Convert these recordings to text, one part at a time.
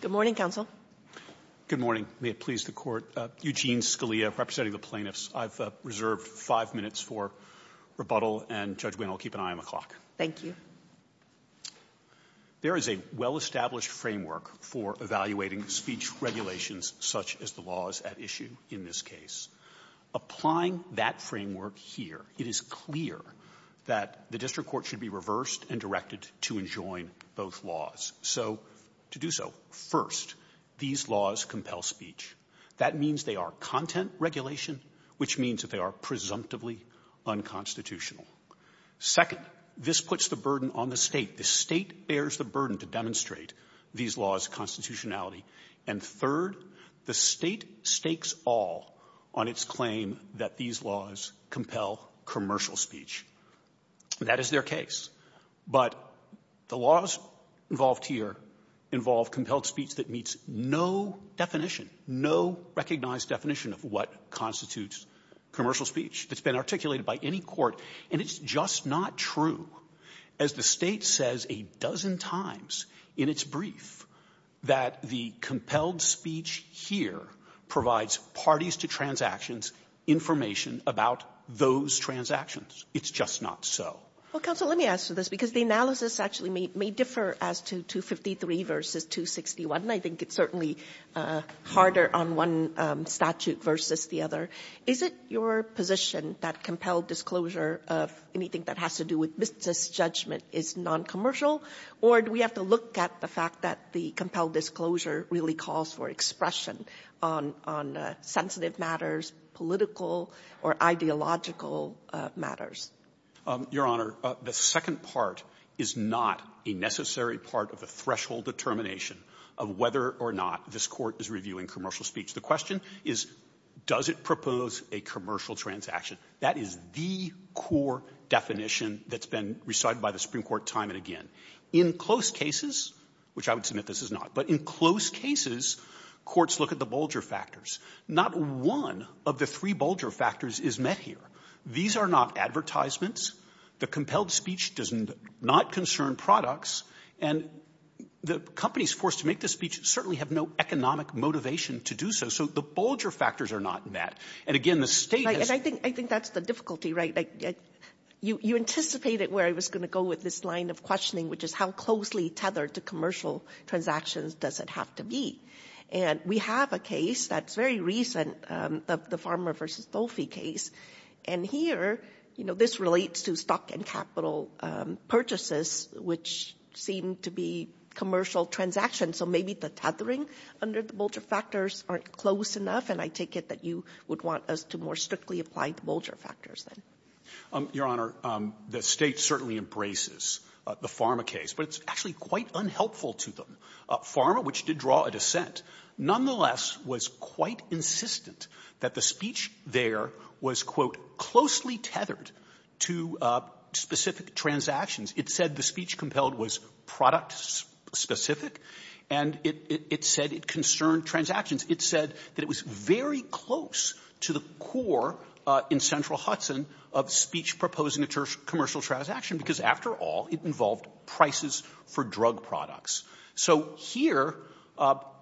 Good morning, counsel. Good morning. May it please the Court. Eugene Scalia, representing the plaintiffs. I've reserved five minutes for rebuttal, and, Judge Winn, I'll keep an eye on the clock. Thank you. There is a well-established framework for evaluating speech regulations such as the laws at issue in this case. Applying that framework here, it is clear that the district court should be reversed and directed to enjoin both laws. So, to do so, first, these laws compel speech. That means they are content regulation, which means that they are presumptively unconstitutional. Second, this puts the burden on the state. The state bears the burden to demonstrate these laws' constitutionality. And third, the state stakes all on its claim that these laws compel commercial speech. That is their case. But the laws involved here involve compelled speech that meets no definition, no recognized definition of what constitutes commercial speech that's been articulated by any court, and it's just not true. As the State says a dozen times in its brief that the compelled speech here provides parties to transactions information about those transactions, it's just not so. Well, counsel, let me ask you this, because the analysis actually may differ as to 253 versus 261. I think it's certainly harder on one statute versus the other. Is it your position that compelled disclosure of anything that has to do with business judgment is non-commercial, or do we have to look at the fact that the compelled disclosure really calls for expression on sensitive matters, political or ideological matters? Your Honor, the second part is not a necessary part of the threshold determination of whether or not this Court is reviewing commercial speech. The question is, does it propose a commercial transaction? That is the core definition that's been recited by the Supreme Court time and again. In close cases, which I would submit this is not, but in close cases, courts look at the Bulger factors. Not one of the three Bulger factors is met here. These are not advertisements. The compelled speech does not concern products, and the companies forced to make this speech certainly have no economic motivation to do so. So the Bulger factors are not met. And again, the State has... And I think that's the difficulty, right? You anticipated where I was going to go with this line of questioning, which is how closely tethered to commercial transactions does it have to be. And we have a case that's very recent, the Farmer v. Dolfi case. And here, you know, this relates to stock and capital purchases, which seem to be commercial transactions. So maybe the tethering under the Bulger factors aren't close enough, and I take it that you would want us to more strictly apply the Bulger factors then. Your Honor, the State certainly embraces the Farmer case, but it's actually quite unhelpful to them. Farmer, which did draw a dissent, nonetheless was quite insistent that the speech there was, quote, closely tethered to specific transactions. It said the speech compelled was product-specific, and it said it concerned transactions. It said that it was very close to the core in Central Hudson of speech proposing a commercial transaction, because after all, it involved prices for drug products. So here,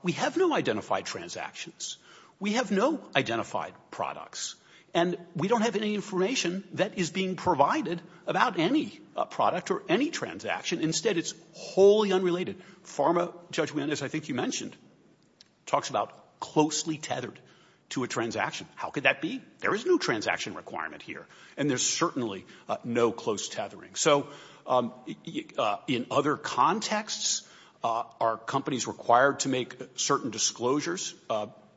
we have no identified transactions. We have no identified products. And we don't have any information that is being provided about any product or any transaction. Instead, it's wholly unrelated. Farmer, Judge Winn, as I think you mentioned, talks about closely tethered to a transaction. How could that be? There is no transaction requirement here, and there's certainly no close tethering. So in other contexts, are companies required to make certain disclosures?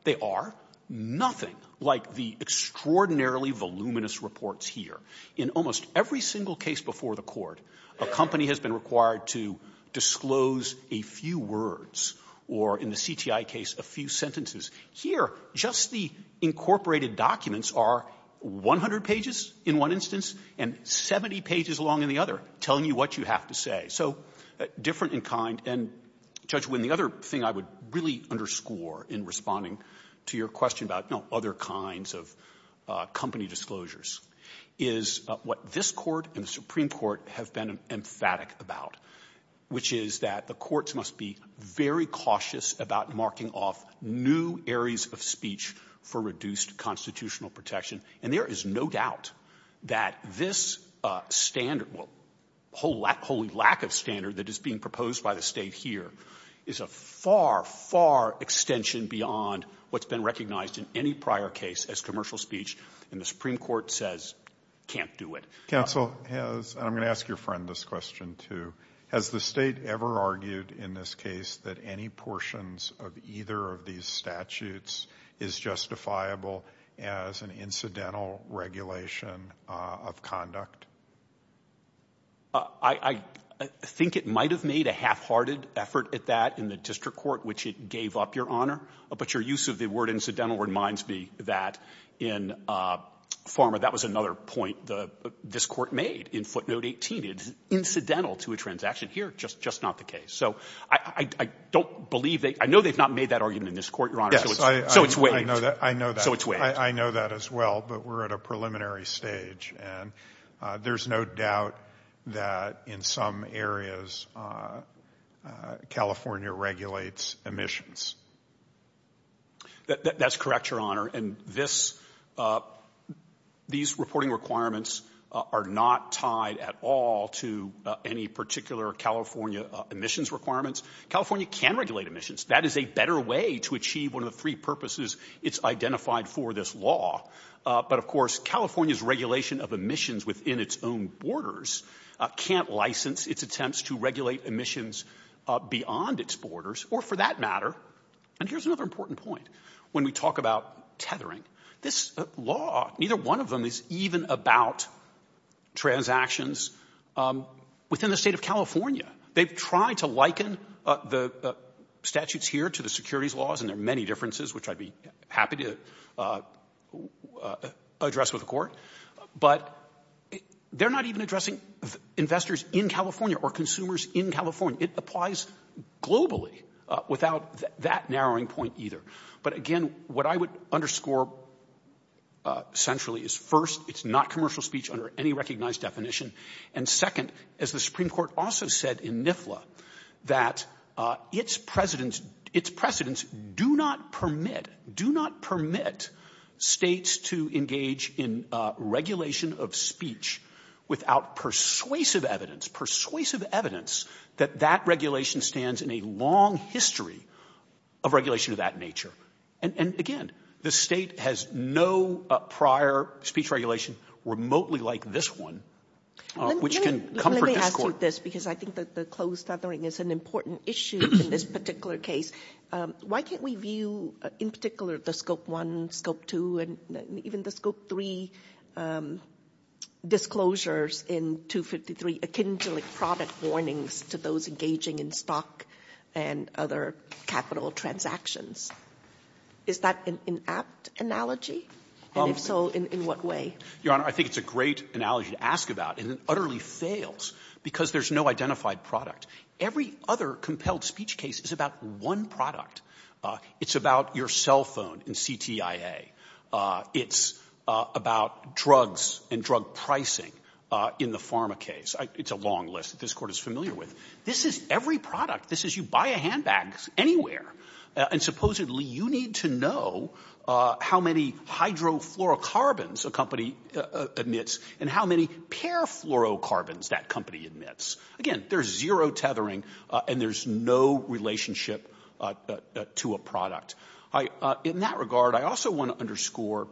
They are. Nothing like the extraordinarily voluminous reports here. In almost every single case before the Court, a company has been required to disclose a few words or, in the CTI case, a few sentences. Here, just the incorporated documents are 100 pages in one instance and 70 pages along in the other, telling you what you have to say. So different in kind. And, Judge Winn, the other thing I would really underscore in responding to your question about, you know, other kinds of company disclosures is what this Court and the Supreme Court have been emphatic about, which is that the courts must be very cautious about marking off new areas of speech for reduced constitutional protection. And there is no doubt that this standard, holy lack of standard that is being proposed by the State here, is a far, far extension beyond what's been recognized in any prior case as commercial speech. And the Supreme Court says, can't do it. Counsel, I'm going to ask your friend this question, too. Has the State ever argued in this case that any portions of either of these statutes is justifiable as an incidental regulation of conduct? I think it might have made a half-hearted effort at that in the district court, which it gave up, Your Honor. But your use of the word incidental reminds me that in Farmer, that was another point this Court made in footnote 18. It's incidental to a transaction. Here, just not the case. So I don't believe they — I know they've not made that argument in this Court, Your Honor, so it's — Yes, I — So it's waived. I know that. I know that. So it's waived. I know that as well, but we're at a preliminary stage. And there's no doubt that in some areas, California regulates emissions. That's correct, Your Honor. And this — these reporting requirements are not tied at all to any particular California emissions requirements. California can regulate emissions. That is a better way to achieve one of the three purposes it's identified for this law. But, of course, California's regulation of emissions within its own borders can't license its attempts to regulate emissions beyond its borders, or for that matter — and here's another important point when we talk about tethering. This law, neither one of them is even about transactions within the State of California. They've tried to liken the statutes here to the securities laws, and there are many differences, which I'd be happy to address with the Court, but they're not even addressing investors in California or consumers in California. It applies globally without that narrowing point either. But, again, what I would underscore centrally is, first, it's not commercial speech under any recognized definition. And, second, as the Supreme Court also said in NIFLA, that its precedents do not permit — do not permit States to engage in regulation of speech without persuasive evidence — persuasive evidence that that regulation stands in a long history of regulation of that nature. And, again, the State has no prior speech regulation remotely like this one. Let me ask you this, because I think that the closed tethering is an important issue in this particular case. Why can't we view, in particular, the scope one, scope two, and even the scope three disclosures in 253, a kindling product warnings to those engaging in stock and other capital transactions? Is that an inapt analogy? And if so, in what way? Your Honor, I think it's a great analogy to ask about. And it utterly fails because there's no identified product. Every other compelled speech case is about one product. It's about your cell phone in CTIA. It's about drugs and drug pricing in the pharma case. It's a long list that this Court is familiar with. This is every product. This is you buy a handbag anywhere. And supposedly, you need to know how many hydrofluorocarbons a company admits and how many parafluorocarbons that company admits. Again, there's zero tethering, and there's no relationship to a product. In that regard, I also want to underscore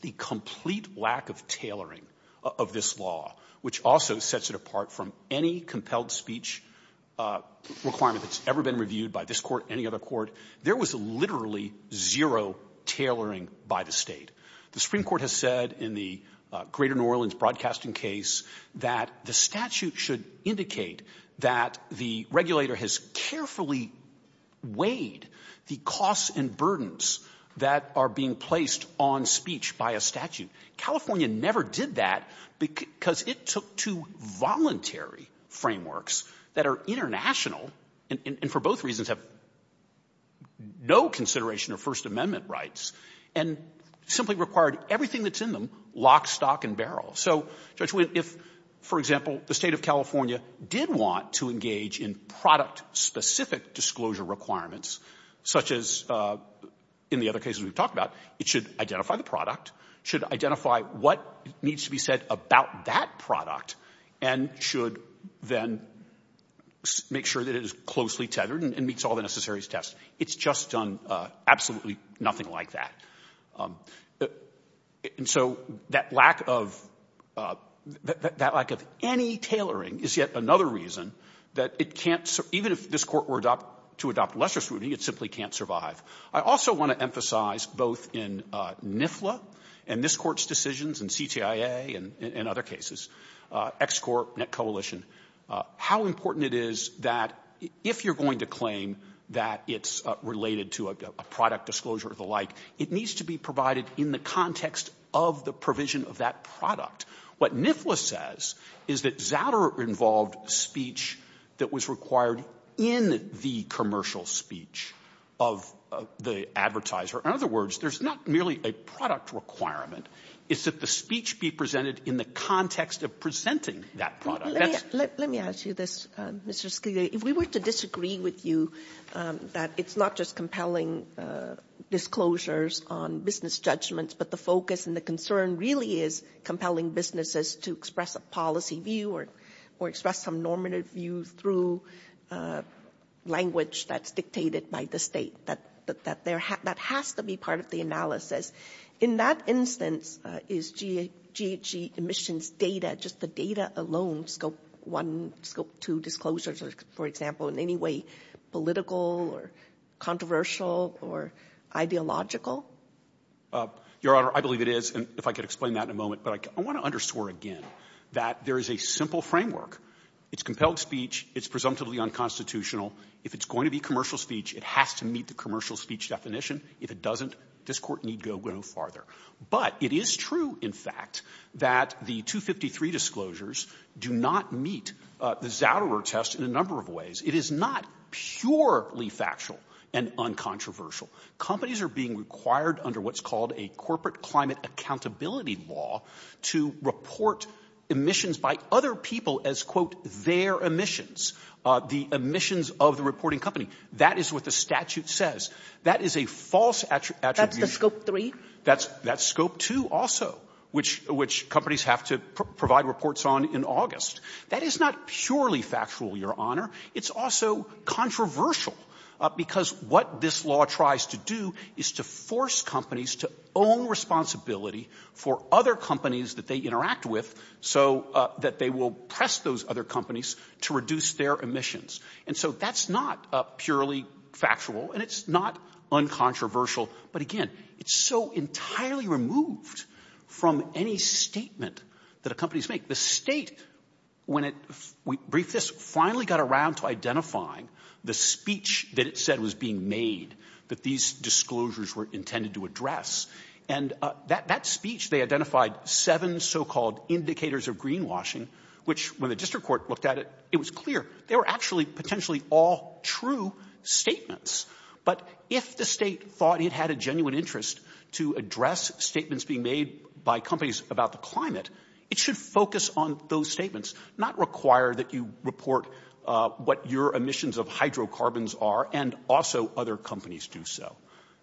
the complete lack of tailoring of this law, which also sets it apart from any compelled speech requirement that's ever been reviewed by this Court, any other Court. There was literally zero tailoring by the state. The Supreme Court has said in the Greater New Orleans Broadcasting case that the statute should indicate that the regulator has carefully weighed the costs and burdens that are being placed on speech by a statute. California never did that because it took two voluntary frameworks that are international, and for both reasons have no consideration of First Amendment rights, and simply required everything that's in them, lock, stock, and barrel. So, Judge Winn, if, for example, the state of California did want to engage in product-specific disclosure requirements, such as in the other cases we've talked about, it should identify the product, should identify what needs to be about that product, and should then make sure that it is closely tethered and meets all the necessary tests. It's just done absolutely nothing like that. And so that lack of any tailoring is yet another reason that it can't, even if this Court were to adopt lesser scrutiny, it simply can't survive. I also want to emphasize both in NIFLA and this Court's decisions and CTIA and other cases, X-Corp, NetCoalition, how important it is that if you're going to claim that it's related to a product disclosure or the like, it needs to be provided in the context of the provision of that product. What NIFLA says is that Zatterer involved speech that was required in the commercial speech of the advertiser. In other words, there's not merely a product requirement. It's that the speech be presented in the context of presenting that product. Let me ask you this, Mr. Scalia. If we were to disagree with you that it's not just compelling disclosures on business judgments, but the focus and the concern really is compelling businesses to express a policy view or express some normative view through language that's dictated by the State, that has to be part of the analysis. In that instance, is GHG emissions data, just the data alone, scope one, scope two disclosures, for example, in any way political or controversial or ideological? Your Honor, I believe it is, and if I could explain that in a moment. But I want to underscore again that there is a simple framework. It's compelled speech. It's presumptively unconstitutional. If it's going to be commercial speech, it has to meet the commercial speech definition. If it doesn't, this Court need go no farther. But it is true, in fact, that the 253 disclosures do not meet the Zouderer test in a number of ways. It is not purely factual and uncontroversial. Companies are being required under what's called a corporate climate accountability law to report emissions by other people as, quote, their emissions, the emissions of the reporting company. That is what the statute says. That is a false attribution. That's the scope three? That's scope two also, which companies have to provide reports on in August. That is not purely factual, Your Honor. It's also controversial, because what this law tries to do is to force companies to own responsibility for other companies that they interact with so that they will press those other companies to reduce their emissions. And so that's not purely factual, and it's not uncontroversial. But again, it's so entirely removed from any statement that a company's made. The State, when it briefed this, finally got around to identifying the speech that it said was being made, that these disclosures were intended to address. And that speech, they identified seven so-called indicators of greenwashing, which, when the district court looked at it, it was clear. They were actually potentially all true statements. But if the State thought it had a genuine interest to address statements being made by companies about the climate, it should focus on those statements, not require that you report what your emissions of hydrocarbons are, and also other companies do so.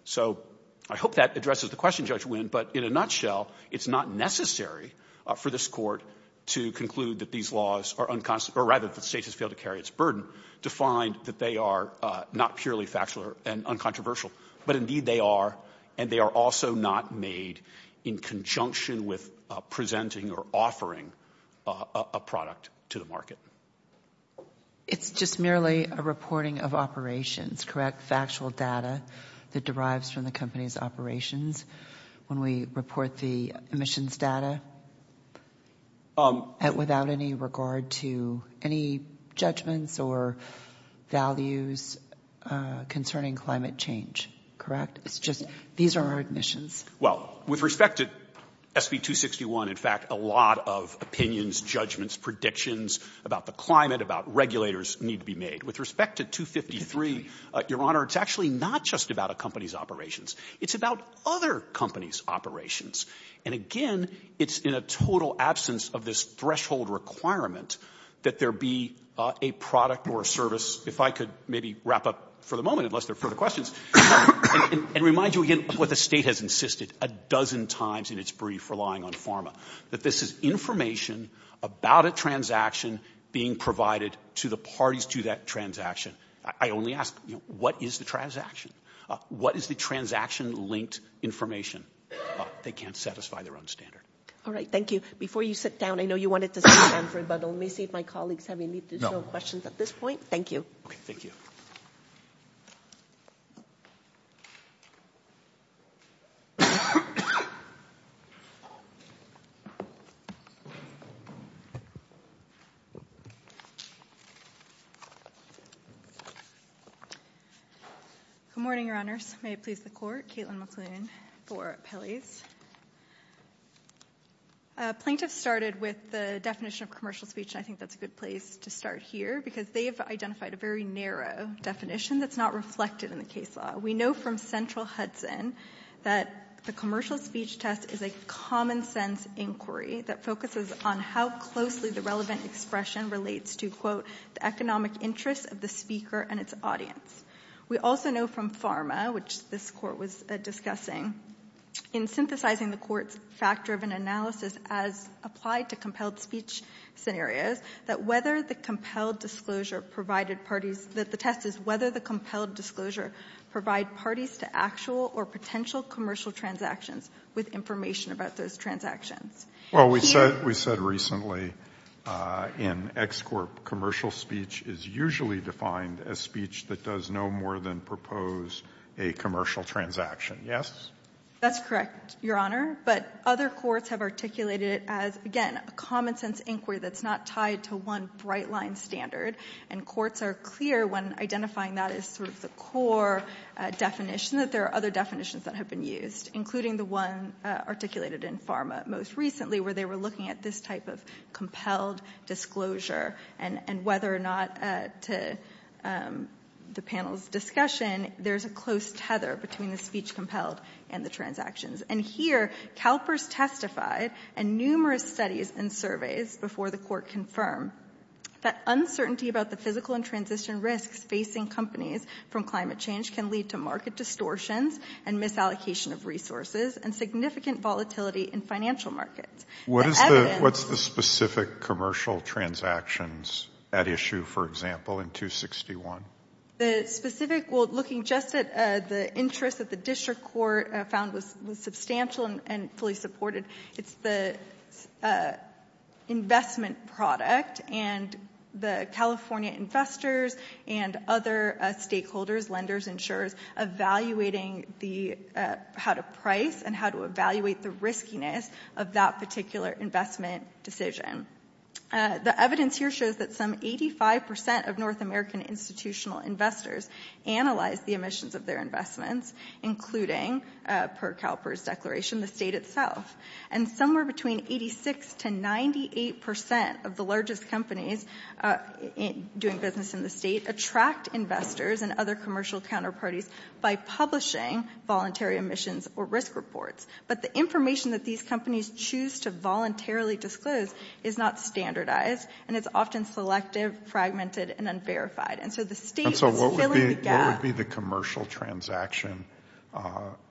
So I hope that addresses the question, Judge Winn. But in a nutshell, it's not necessary for this court to conclude that these laws are unconstitutional, or rather, that the State has failed to carry its burden to find that they are not purely factual and uncontroversial. But indeed, they are, and they are also not made in conjunction with presenting or offering a product to the market. It's just merely a reporting of operations, correct? Factual data that derives from the company's operations. When we report the emissions data, without any regard to any judgments or values concerning climate change, correct? It's just, these are our admissions. Well, with respect to SB 261, in fact, a lot of opinions, judgments, predictions about the climate, about regulators, need to be made. With respect to 253, Your Honor, it's actually not just about a company's operations. It's about other companies' operations. And again, it's in a total absence of this threshold requirement that there be a product or a service, if I could maybe wrap up for the moment, unless there are further questions, and remind you again of what the State has insisted a dozen times in its brief relying on PhRMA, that this is information about a transaction being provided to the parties to that transaction. I only ask, what is the transaction? What is the transaction-linked information? They can't satisfy their own standard. All right. Thank you. Before you sit down, I know you wanted to sit down, but let me see if my colleagues have any additional questions at this point. Thank you. Okay. Good morning, Your Honors. May it please the Court. Caitlin McLoone for Appellees. Plaintiffs started with the definition of commercial speech, and I think that's a good place to start here, because they've identified a very narrow definition that's not reflected in the case law. We know from Central Hudson that the commercial speech test is a common-sense inquiry that focuses on how closely the relevant expression relates to, quote, the economic interests of the speaker and its audience. We also know from PhRMA, which this Court was discussing, in synthesizing the Court's fact-driven analysis as applied to compelled speech scenarios, that whether the compelled disclosure provided parties — that the test is whether the compelled disclosure provide parties to actual or potential commercial transactions with information about those transactions. Well, we said — we said recently in Ex Corp commercial speech is usually defined as speech that does no more than propose a commercial transaction. Yes? That's correct, Your Honor. But other courts have articulated it as, again, a common-sense inquiry that's not tied to one bright-line standard, and courts are clear, when identifying that as sort of the core definition, that there are other definitions that have been used, including the one articulated in PhRMA most recently, where they were looking at this type of compelled disclosure, and whether or not, to the panel's discussion, there's a close tether between the speech compelled and the transactions. And here, CalPERS testified in numerous studies and surveys before the Court confirmed that uncertainty about the physical and transition risks facing companies from climate change can lead to market distortions and misallocation of resources and significant volatility in financial markets. What is the — what's the specific commercial transactions at issue, for example, in 261? The specific — well, looking just at the interest that the District Court found was substantial and fully supported, it's the investment product, and the California investors and other stakeholders, lenders, insurers, evaluating the — how to price and how to evaluate the riskiness of that particular investment decision. The evidence here shows that some 85 percent of North American institutional investors analyze the emissions of their investments, including, per CalPERS declaration, the state itself. And somewhere between 86 to 98 percent of the largest companies doing business in the state attract investors and other commercial counterparties by publishing voluntary emissions or risk reports. But the information that these companies choose to voluntarily disclose is not standardized, and it's often selective, fragmented, and unverified. And so the state is filling the gap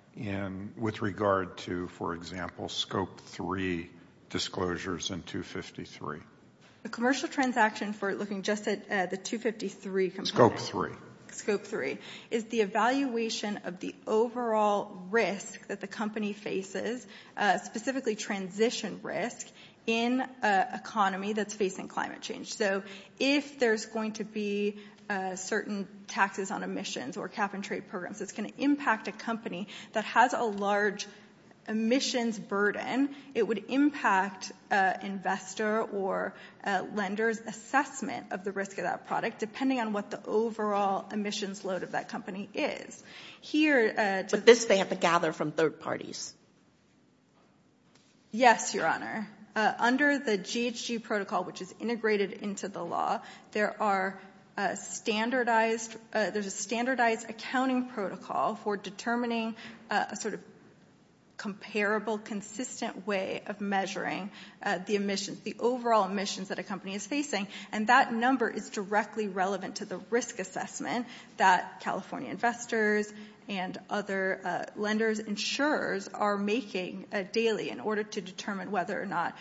— and with regard to, for example, Scope 3 disclosures in 253. The commercial transaction for looking just at the 253 — Scope 3. Scope 3 is the evaluation of the overall risk that the company faces, specifically transition risk, in an economy that's facing climate change. So if there's going to be certain taxes on emissions or cap-and-trade programs, it's going to impact a company that has a large emissions burden. It would impact investor or lender's assessment of the risk of that product, depending on what the overall emissions load of that company is. Here — But this they have to gather from third parties. Yes, Your Honor. Under the GHG protocol, which is integrated into the law, there are standardized — there's a standardized accounting protocol for determining a sort of comparable, consistent way of measuring the emissions — the overall emissions that a company is facing. And that number is directly relevant to the risk assessment that California investors and other lenders, insurers are making daily in order to determine whether or not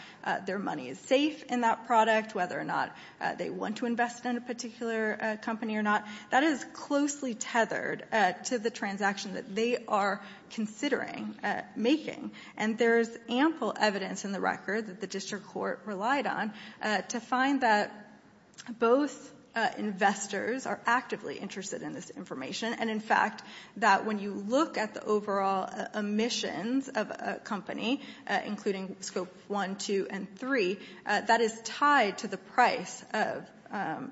their money is safe in that product, whether or not they want to invest in a particular company or not. That is closely tethered to the transaction that they are considering making. And there's ample evidence in the record that the District Court relied on to find that both investors are actively interested in this information. And in fact, that when you look at the overall emissions of a company, including Scope 1, 2, and 3, that is tied to the price of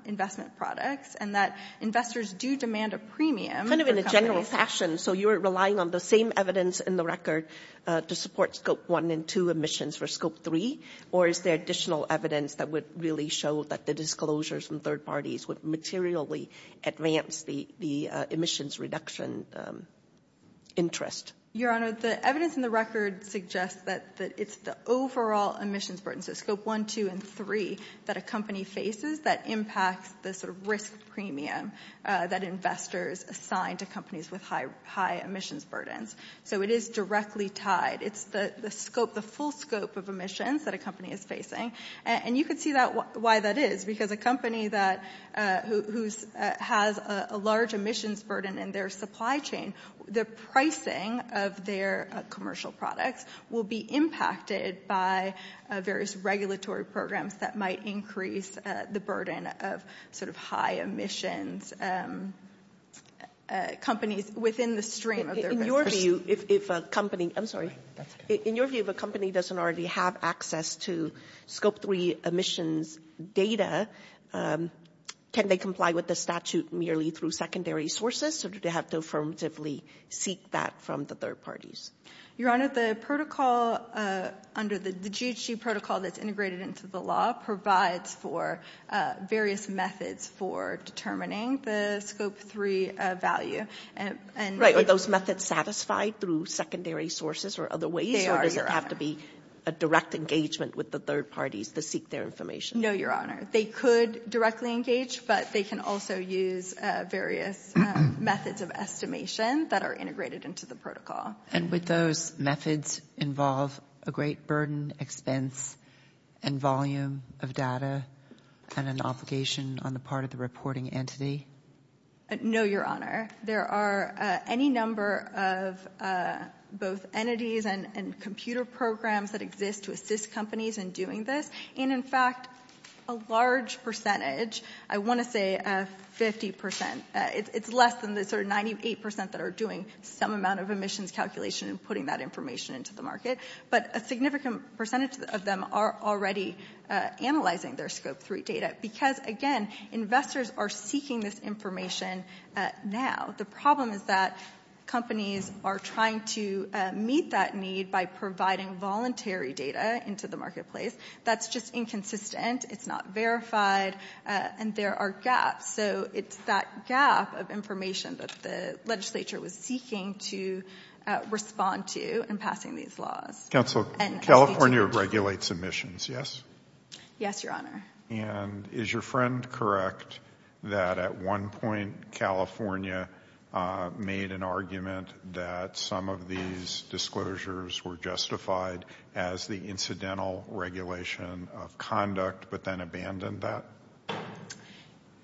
investment products and that investors do demand a premium. Kind of in a general fashion. So you're relying on the same evidence in the record to support Scope 1 and 2 emissions for Scope 3? Or is there additional evidence that would really show that the disclosures from third parties would materially advance the emissions reduction interest? Your Honor, the evidence in the record suggests that it's the overall emissions burden. So Scope 1, 2, and 3 that a company faces that impacts the sort of risk premium that investors assign to companies with high emissions burdens. So it is directly tied. It's the scope, the full scope of emissions that a company is facing. And you could see why that is. Because a company that has a large emissions burden in their supply chain, the pricing of their commercial products will be impacted by various regulatory programs that might increase the burden of sort of high emissions companies within the stream of their business. In your view, if a company, I'm sorry. In your view, if a company doesn't already have access to Scope 3 emissions data, can they comply with the statute merely through secondary sources? Or do they have to affirmatively seek that from the third parties? Your Honor, the protocol under the GHG protocol that's integrated into the law provides for various methods for determining the Scope 3 value. Right. Are those methods satisfied through secondary sources or other ways? Or does it have to be a direct engagement with the third parties to seek their information? No, Your Honor. They could directly engage, but they can also use various methods of estimation that are integrated into the protocol. And would those methods involve a great burden, expense, and volume of data and an obligation on the part of the reporting entity? No, Your Honor. There are any number of both entities and computer programs that exist to assist companies in doing this. And in fact, a large percentage, I want to say 50 percent, it's less than the sort of 98 percent that are doing some amount of emissions calculation and putting that information into the market. But a significant percentage of them are already analyzing their Scope 3 data because, again, investors are seeking this information now. The problem is that companies are trying to meet that need by providing voluntary data into the marketplace. That's just inconsistent, it's not verified, and there are gaps. So it's that gap of information that the legislature was seeking to respond to in passing these laws. Counsel, California regulates emissions, yes? Yes, Your Honor. And is your friend correct that at one point California made an argument that some of these disclosures were justified as the incidental regulation of conduct, but then abandoned that?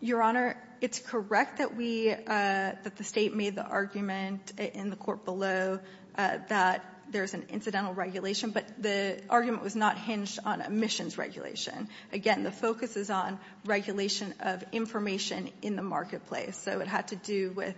Your Honor, it's correct that we, that the state made the argument in the court below that there's an incidental regulation, but the argument was not hinged on emissions regulation. Again, the focus is on regulation of information in the marketplace. So it had to do with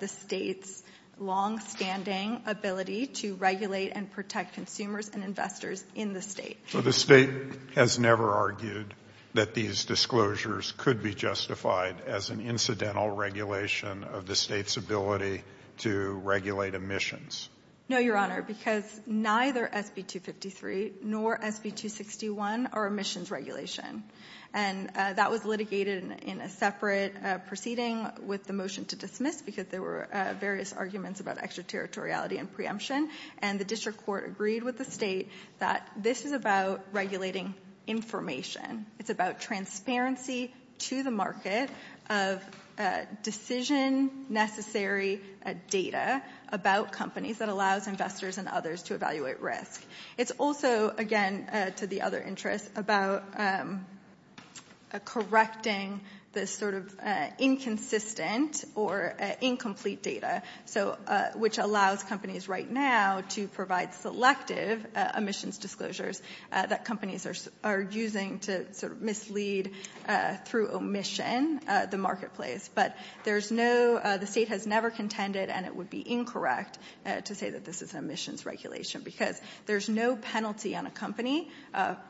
the state's longstanding ability to regulate and protect consumers and investors in the state. So the state has never argued that these disclosures could be justified as an incidental regulation of the state's ability to regulate emissions? No, Your Honor, because neither SB 253 nor SB 261 are emissions regulation. And that was litigated in a separate proceeding with the motion to dismiss because there were various arguments about extraterritoriality and preemption. And the district court agreed with the state that this is about regulating information. It's about transparency to the market of decision necessary data about companies that allows investors and others to evaluate risk. It's also, again, to the other interest, about correcting this sort of inconsistent or incomplete data, so, which allows companies right now to provide selective emissions disclosures that companies are using to sort of mislead through omission the marketplace. But there's no, the state has never contended, and it would be incorrect to say that this is an emissions regulation because there's no penalty on a company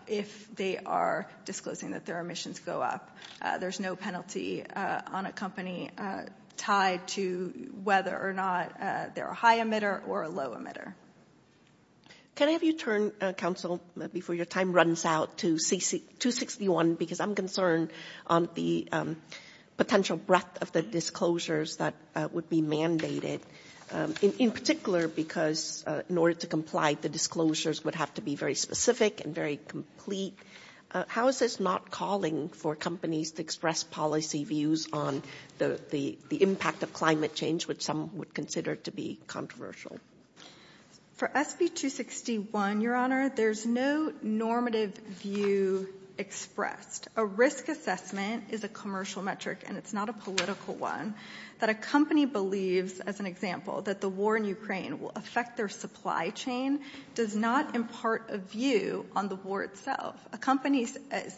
if they are disclosing that their emissions go up. There's no penalty on a company tied to whether or not they're a high emitter or a low emitter. Can I have you turn, counsel, before your time runs out, to 261 because I'm concerned on the potential breadth of the disclosures that would be mandated, in particular because in order to comply, the disclosures would have to be very specific and very complete. How is this not calling for companies to express policy views on the impact of climate change, which some would consider to be controversial? For SB 261, Your Honor, there's no normative view expressed. A risk assessment is a commercial metric, and it's not a political one, that a company believes, as an example, that the war in Ukraine will affect their supply chain does not impart a view on the war itself. A company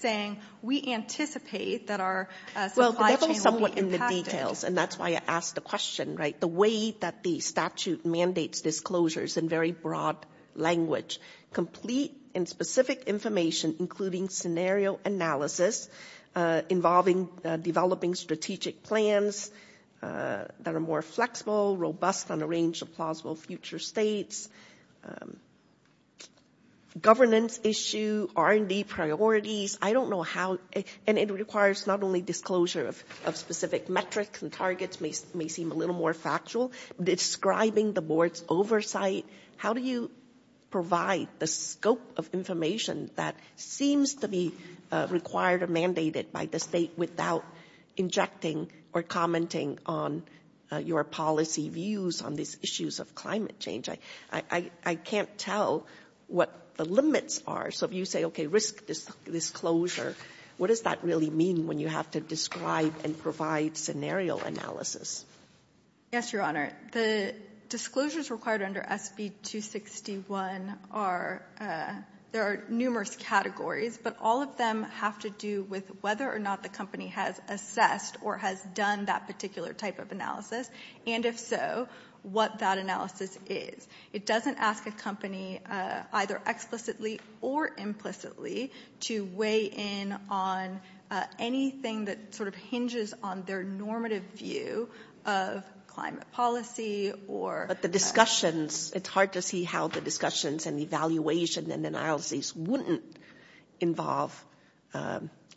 saying, we anticipate that our supply chain will be impacted. Well, that's all somewhat in the details, and that's why I asked the question, right? The way that the statute mandates disclosures in very broad language, complete and specific information, including scenario analysis involving, developing strategic plans that are more flexible, robust on a range of plausible future states, governance issue, R&D priorities. I don't know how, and it requires not only disclosure of specific metrics and targets may seem a little more factual, describing the board's oversight. How do you provide the scope of information that seems to be required or mandated by the state without injecting or commenting on your policy views on these issues of climate change? I can't tell what the limits are. So if you say, okay, risk disclosure, what does that really mean when you have to describe and provide scenario analysis? Yes, Your Honor. The disclosures required under SB 261 are, there are numerous categories, but all of them have to do with whether or not the company has assessed or has done that particular type of analysis, and if so, what that analysis is. It doesn't ask a company either explicitly or implicitly to weigh in on anything that sort of hinges on their normative view of climate policy or. But the discussions, it's hard to see how the discussions and evaluation and analysis wouldn't involve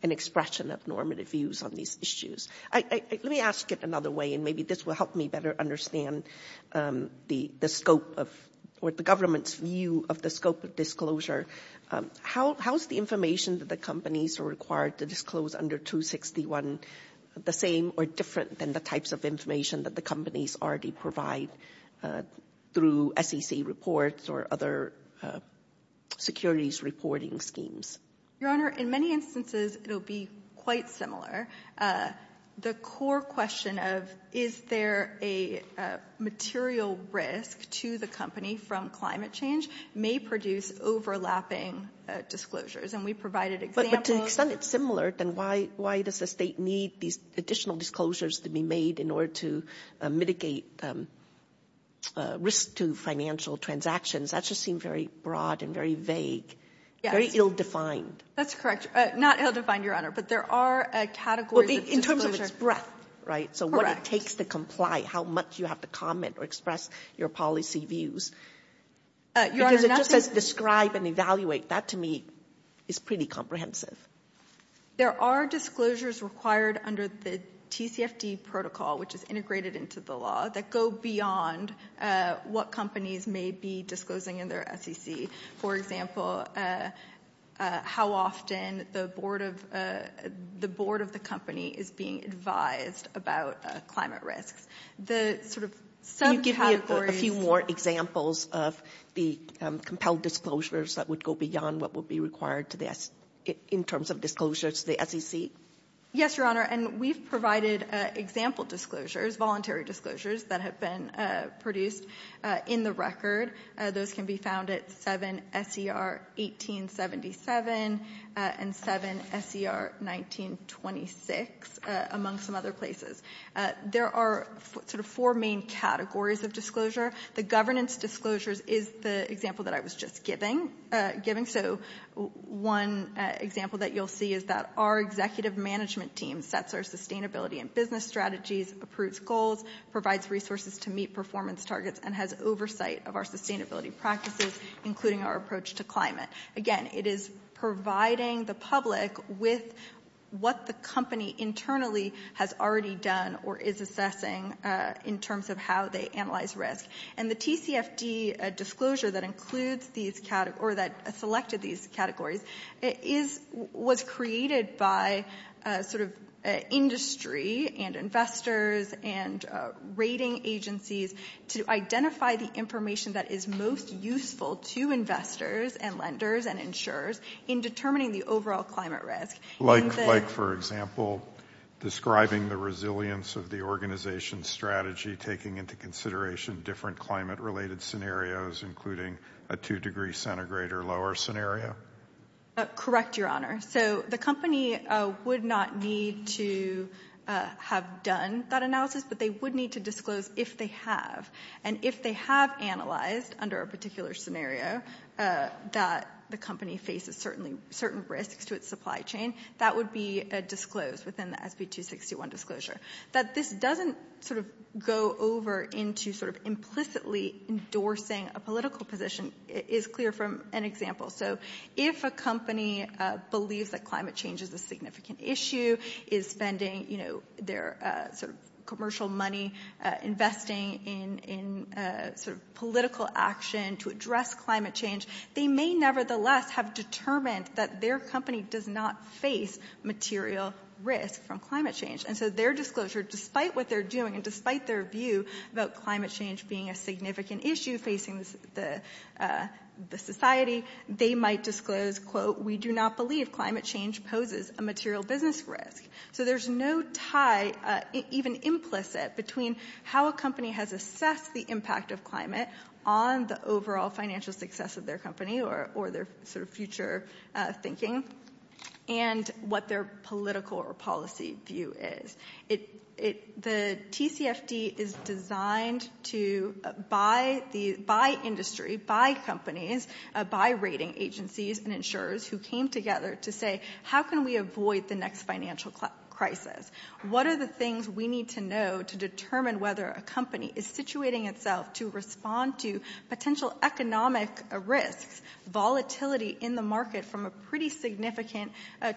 an expression of normative views on these issues. Let me ask it another way, and maybe this will help me better understand the scope of what the government's view of the scope of disclosure. How is the information that the companies are required to disclose under 261 the same or different than the types of information that the companies already provide through SEC reports or other securities reporting schemes? Your Honor, in many instances, it'll be quite similar. The core question of is there a material risk to the company from climate change may produce overlapping disclosures, and we provided examples. But to an extent, it's similar. Then why does the state need these additional disclosures to be made in order to mitigate risk to financial transactions? That just seems very broad and very vague, very ill-defined. That's correct. Not ill-defined, Your Honor, but there are categories of disclosure. In terms of its breadth, right? So what it takes to comply, how much you have to comment or express your policy views. Because it just says describe and evaluate. That, to me, is pretty comprehensive. There are disclosures required under the TCFD protocol, which is integrated into the law, that go beyond what companies may be disclosing in their SEC. For example, how often the board of the company is being advised about climate risks. The sort of subcategories. Can you give me a few more examples of the compelled disclosures that would go beyond what would be required in terms of disclosures to the SEC? Yes, Your Honor. And we've provided example disclosures, voluntary disclosures, that have been produced in the record. Those can be found at 7 S.E.R. 1877 and 7 S.E.R. 1926, among some other places. There are sort of four main categories of disclosure. The governance disclosures is the example that I was just giving. So one example that you'll see is that our executive management team sets our sustainability and business strategies, approves goals, provides resources to meet performance targets, and has oversight of our sustainability practices, including our approach to climate. Again, it is providing the public with what the company internally has already done or is assessing in terms of how they analyze risk. And the TCFD disclosure that includes these categories, or that selected these categories, was created by sort of industry and investors and rating agencies to identify the information that is most useful to investors and lenders and insurers in determining the overall climate risk. Like, for example, describing the resilience of the organization's strategy, taking into consideration different climate-related scenarios, including a two-degree centigrade or lower scenario. Correct, Your Honor. So the company would not need to have done that analysis, but they would need to disclose if they have. And if they have analyzed under a particular scenario that the company faces certain risks to its supply chain, that would be disclosed within the SB 261 disclosure. That this doesn't sort of go over into sort of implicitly endorsing a political position is clear from an example. So if a company believes that climate change is a significant issue, is spending, you know, their sort of commercial money investing in sort of political action to address climate change, they may nevertheless have determined that their company does not face material risk from climate change. And so their disclosure, despite what they're doing and despite their view about climate change being a significant issue facing the society, they might disclose, quote, we do not believe climate change poses a material business risk. So there's no tie, even implicit, between how a company has assessed the impact of climate on the overall financial success of their company or their sort of future thinking and what their political or policy view is. The TCFD is designed to, by industry, by companies, by rating agencies and insurers who came together to say, how can we avoid the next financial crisis? What are the things we need to know to determine whether a company is situating itself to respond to potential economic risks, volatility in the market from a pretty significant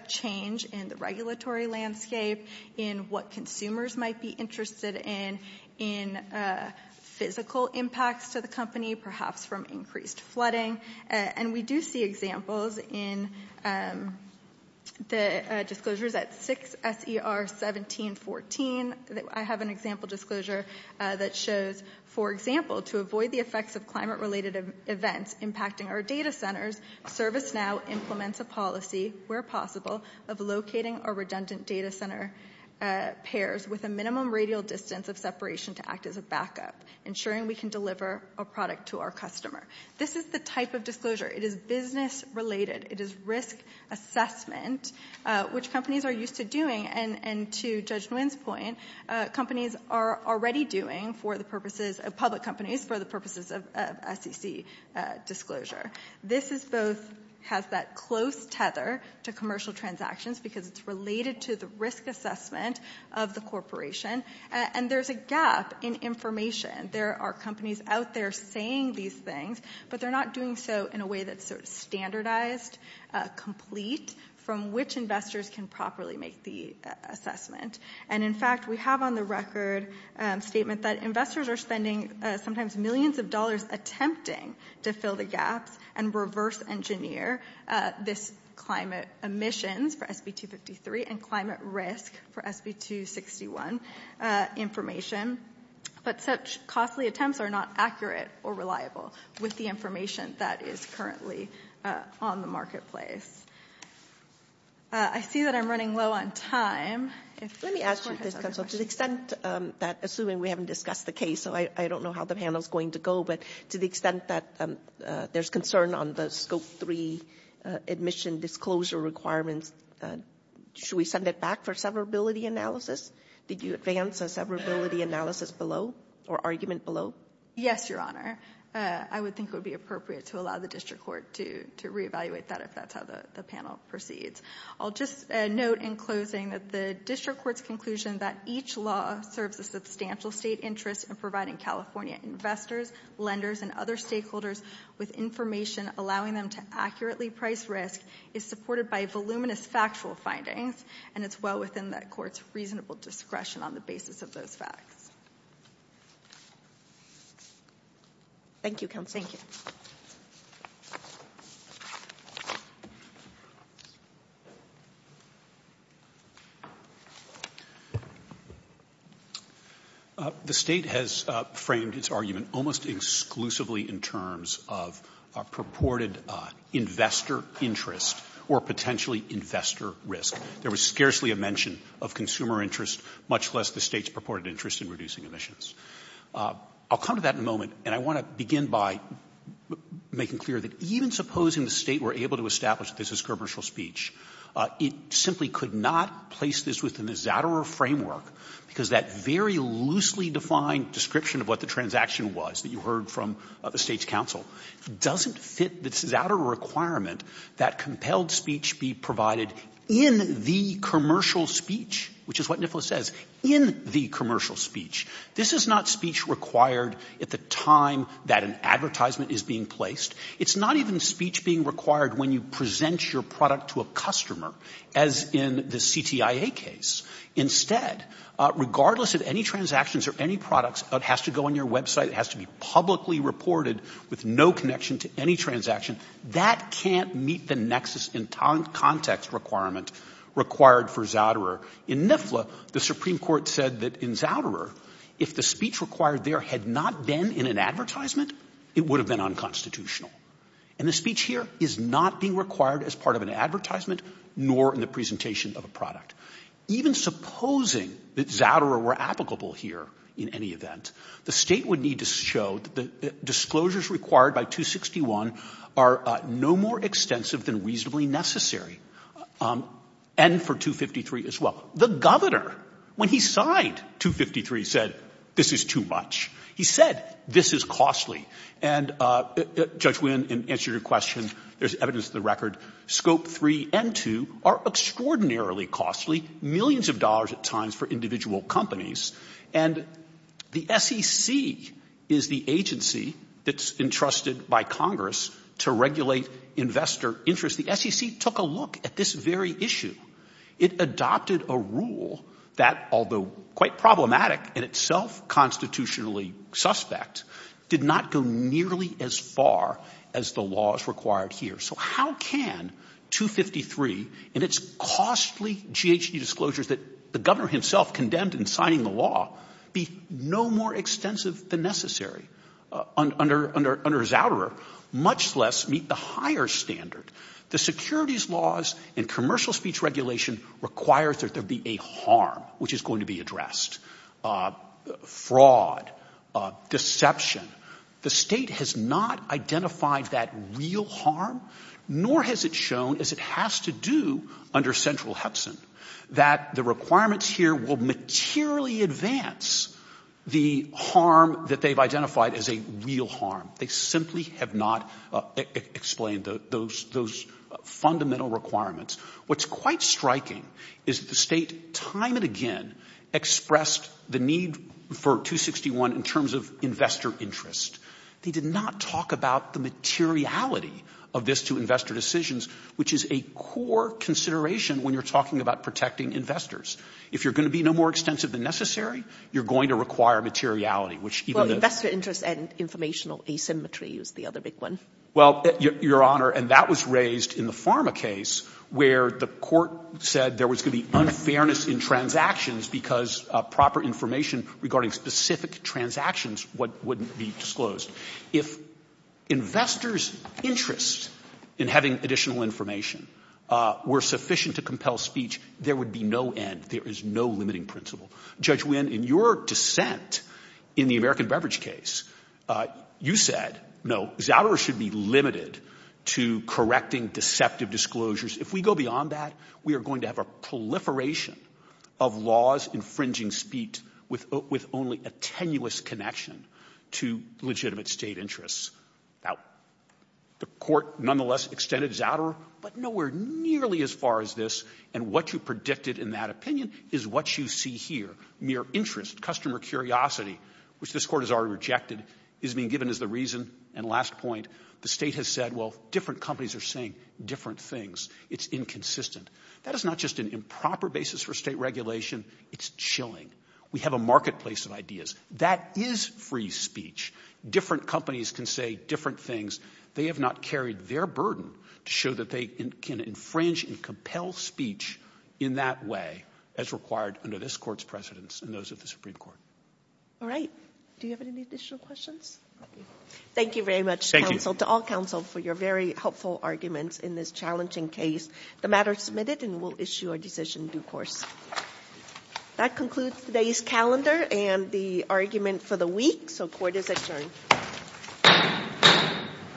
change in the regulatory landscape, in what consumers might be interested in, in physical impacts to the company, perhaps from increased flooding. And we do see examples in the disclosures at 6 S.E.R. 1714. I have an example disclosure that shows, for example, to avoid the effects of climate-related events impacting our data centers, ServiceNow implements a policy, where possible, of locating our redundant data center pairs with a minimum radial distance of separation to act as a backup, ensuring we can deliver a product to our customer. This is the type of disclosure. It is business-related. It is risk assessment, which companies are used to doing. And to Judge Nguyen's point, companies are already doing for the purposes, public companies, for the purposes of SEC disclosure. This is both, has that close tether to commercial transactions because it's related to the risk assessment of the corporation. And there's a gap in information. There are companies out there saying these things, but they're not doing so in a way that's sort of standardized, complete, from which investors can properly make the assessment. And in fact, we have on the record a statement that investors are spending sometimes millions of dollars attempting to fill the gaps and reverse engineer this climate emissions for SB 253 and climate risk for SB 261 information. But such costly attempts are not accurate or reliable with the information that is currently on the marketplace. I see that I'm running low on time. Let me ask you this, counsel. To the extent that, assuming we haven't discussed the case, so I don't know how the panel is going to go, but to the extent that there's concern on the scope 3 admission disclosure requirements, should we send it back for severability analysis? Did you advance a severability analysis below or argument below? Yes, Your Honor. I would think it would be appropriate to allow the district court to reevaluate that if that's how the panel proceeds. I'll just note in closing that the district court's conclusion that each law serves a substantial state interest in providing California investors, lenders and other stakeholders with information allowing them to accurately price risk is supported by voluminous factual findings and it's well within the court's reasonable discretion on the basis of those facts. Thank you, counsel. Thank you. The State has framed its argument almost exclusively in terms of a purported investor interest or potentially investor risk. There was scarcely a mention of consumer interest, much less the State's purported interest in reducing emissions. I'll come to that in a moment and I want to begin by making clear that even supposing the State were able to establish this as commercial speech, it simply could not place this within the Zatterer framework because that very loosely defined description of what the transaction was that you heard from the State's counsel doesn't fit the Zatterer requirement that compelled speech be provided in the commercial speech, which is what NIFLA says, in the commercial speech. This is not speech required at the time that an advertisement is being placed. It's not even speech being required when you present your product to a customer, as in the CTIA case. Instead, regardless of any transactions or any products, it has to go on your website, it has to be publicly reported with no connection to any transaction. That can't meet the nexus in context requirement required for Zatterer. In NIFLA, the Supreme Court said that in Zatterer, if the speech required there had not been in an advertisement, it would have been unconstitutional. And the speech here is not being required as part of an advertisement nor in the presentation of a product. Even supposing that Zatterer were applicable here in any event, the State would need to show that the disclosures required by 261 are no more extensive than reasonably necessary and for 253 as well. The governor, when he signed 253, said, this is too much. He said, this is costly. And Judge Wynn, in answer to your question, there's evidence of the record. Scope 3 and 2 are extraordinarily costly, millions of dollars at times for individual companies. And the SEC is the agency that's entrusted by Congress to regulate investor interest. The SEC took a look at this very issue. It adopted a rule that, although quite problematic in itself constitutionally suspect, did not go nearly as far as the laws required here. So how can 253 and its costly GHG disclosures that the governor himself condemned in signing the law be no more extensive than necessary under Zatterer, much less meet the higher standard? The securities laws and commercial speech regulation requires that there be a harm, which is going to be addressed, fraud, deception. The State has not identified that real harm, nor has it shown, as it has to do under Central Hudson, that the requirements here will materially advance the harm that they've identified as a real harm. They simply have not explained those fundamental requirements. What's quite striking is the State, time and again, expressed the need for 261 in terms of investor interest. They did not talk about the materiality of this to investor decisions, which is a core consideration when you're talking about protecting investors. If you're going to be no more extensive than necessary, you're going to require materiality, Well, investor interest and informational asymmetry is the other big one. Well, Your Honor, and that was raised in the Pharma case, where the court said there was going to be unfairness in transactions because proper information regarding specific transactions wouldn't be disclosed. If investors' interest in having additional information were sufficient to compel speech, there would be no end. There is no limiting principle. Judge Wynn, in your dissent in the American Beverage case, you said, no, Zouderer should be limited to correcting deceptive disclosures. If we go beyond that, we are going to have a proliferation of laws infringing speech with only a tenuous connection to legitimate State interests. Now, the court nonetheless extended Zouderer, but nowhere nearly as far as this, and what you predicted in that opinion is what you see here. Mere interest, customer curiosity, which this court has already rejected, is being given as the reason and last point. The State has said, well, different companies are saying different things. It's inconsistent. That is not just an improper basis for State regulation. It's chilling. We have a marketplace of ideas. That is free speech. Different companies can say different things. They have not carried their burden to show that they can infringe and compel speech in that way as required under this court's precedence and those of the Supreme Court. All right. Do you have any additional questions? Thank you very much, counsel, to all counsel for your very helpful arguments in this challenging case. The matter is submitted and we'll issue a decision in due course. That concludes today's calendar and the argument for the week. So court is adjourned.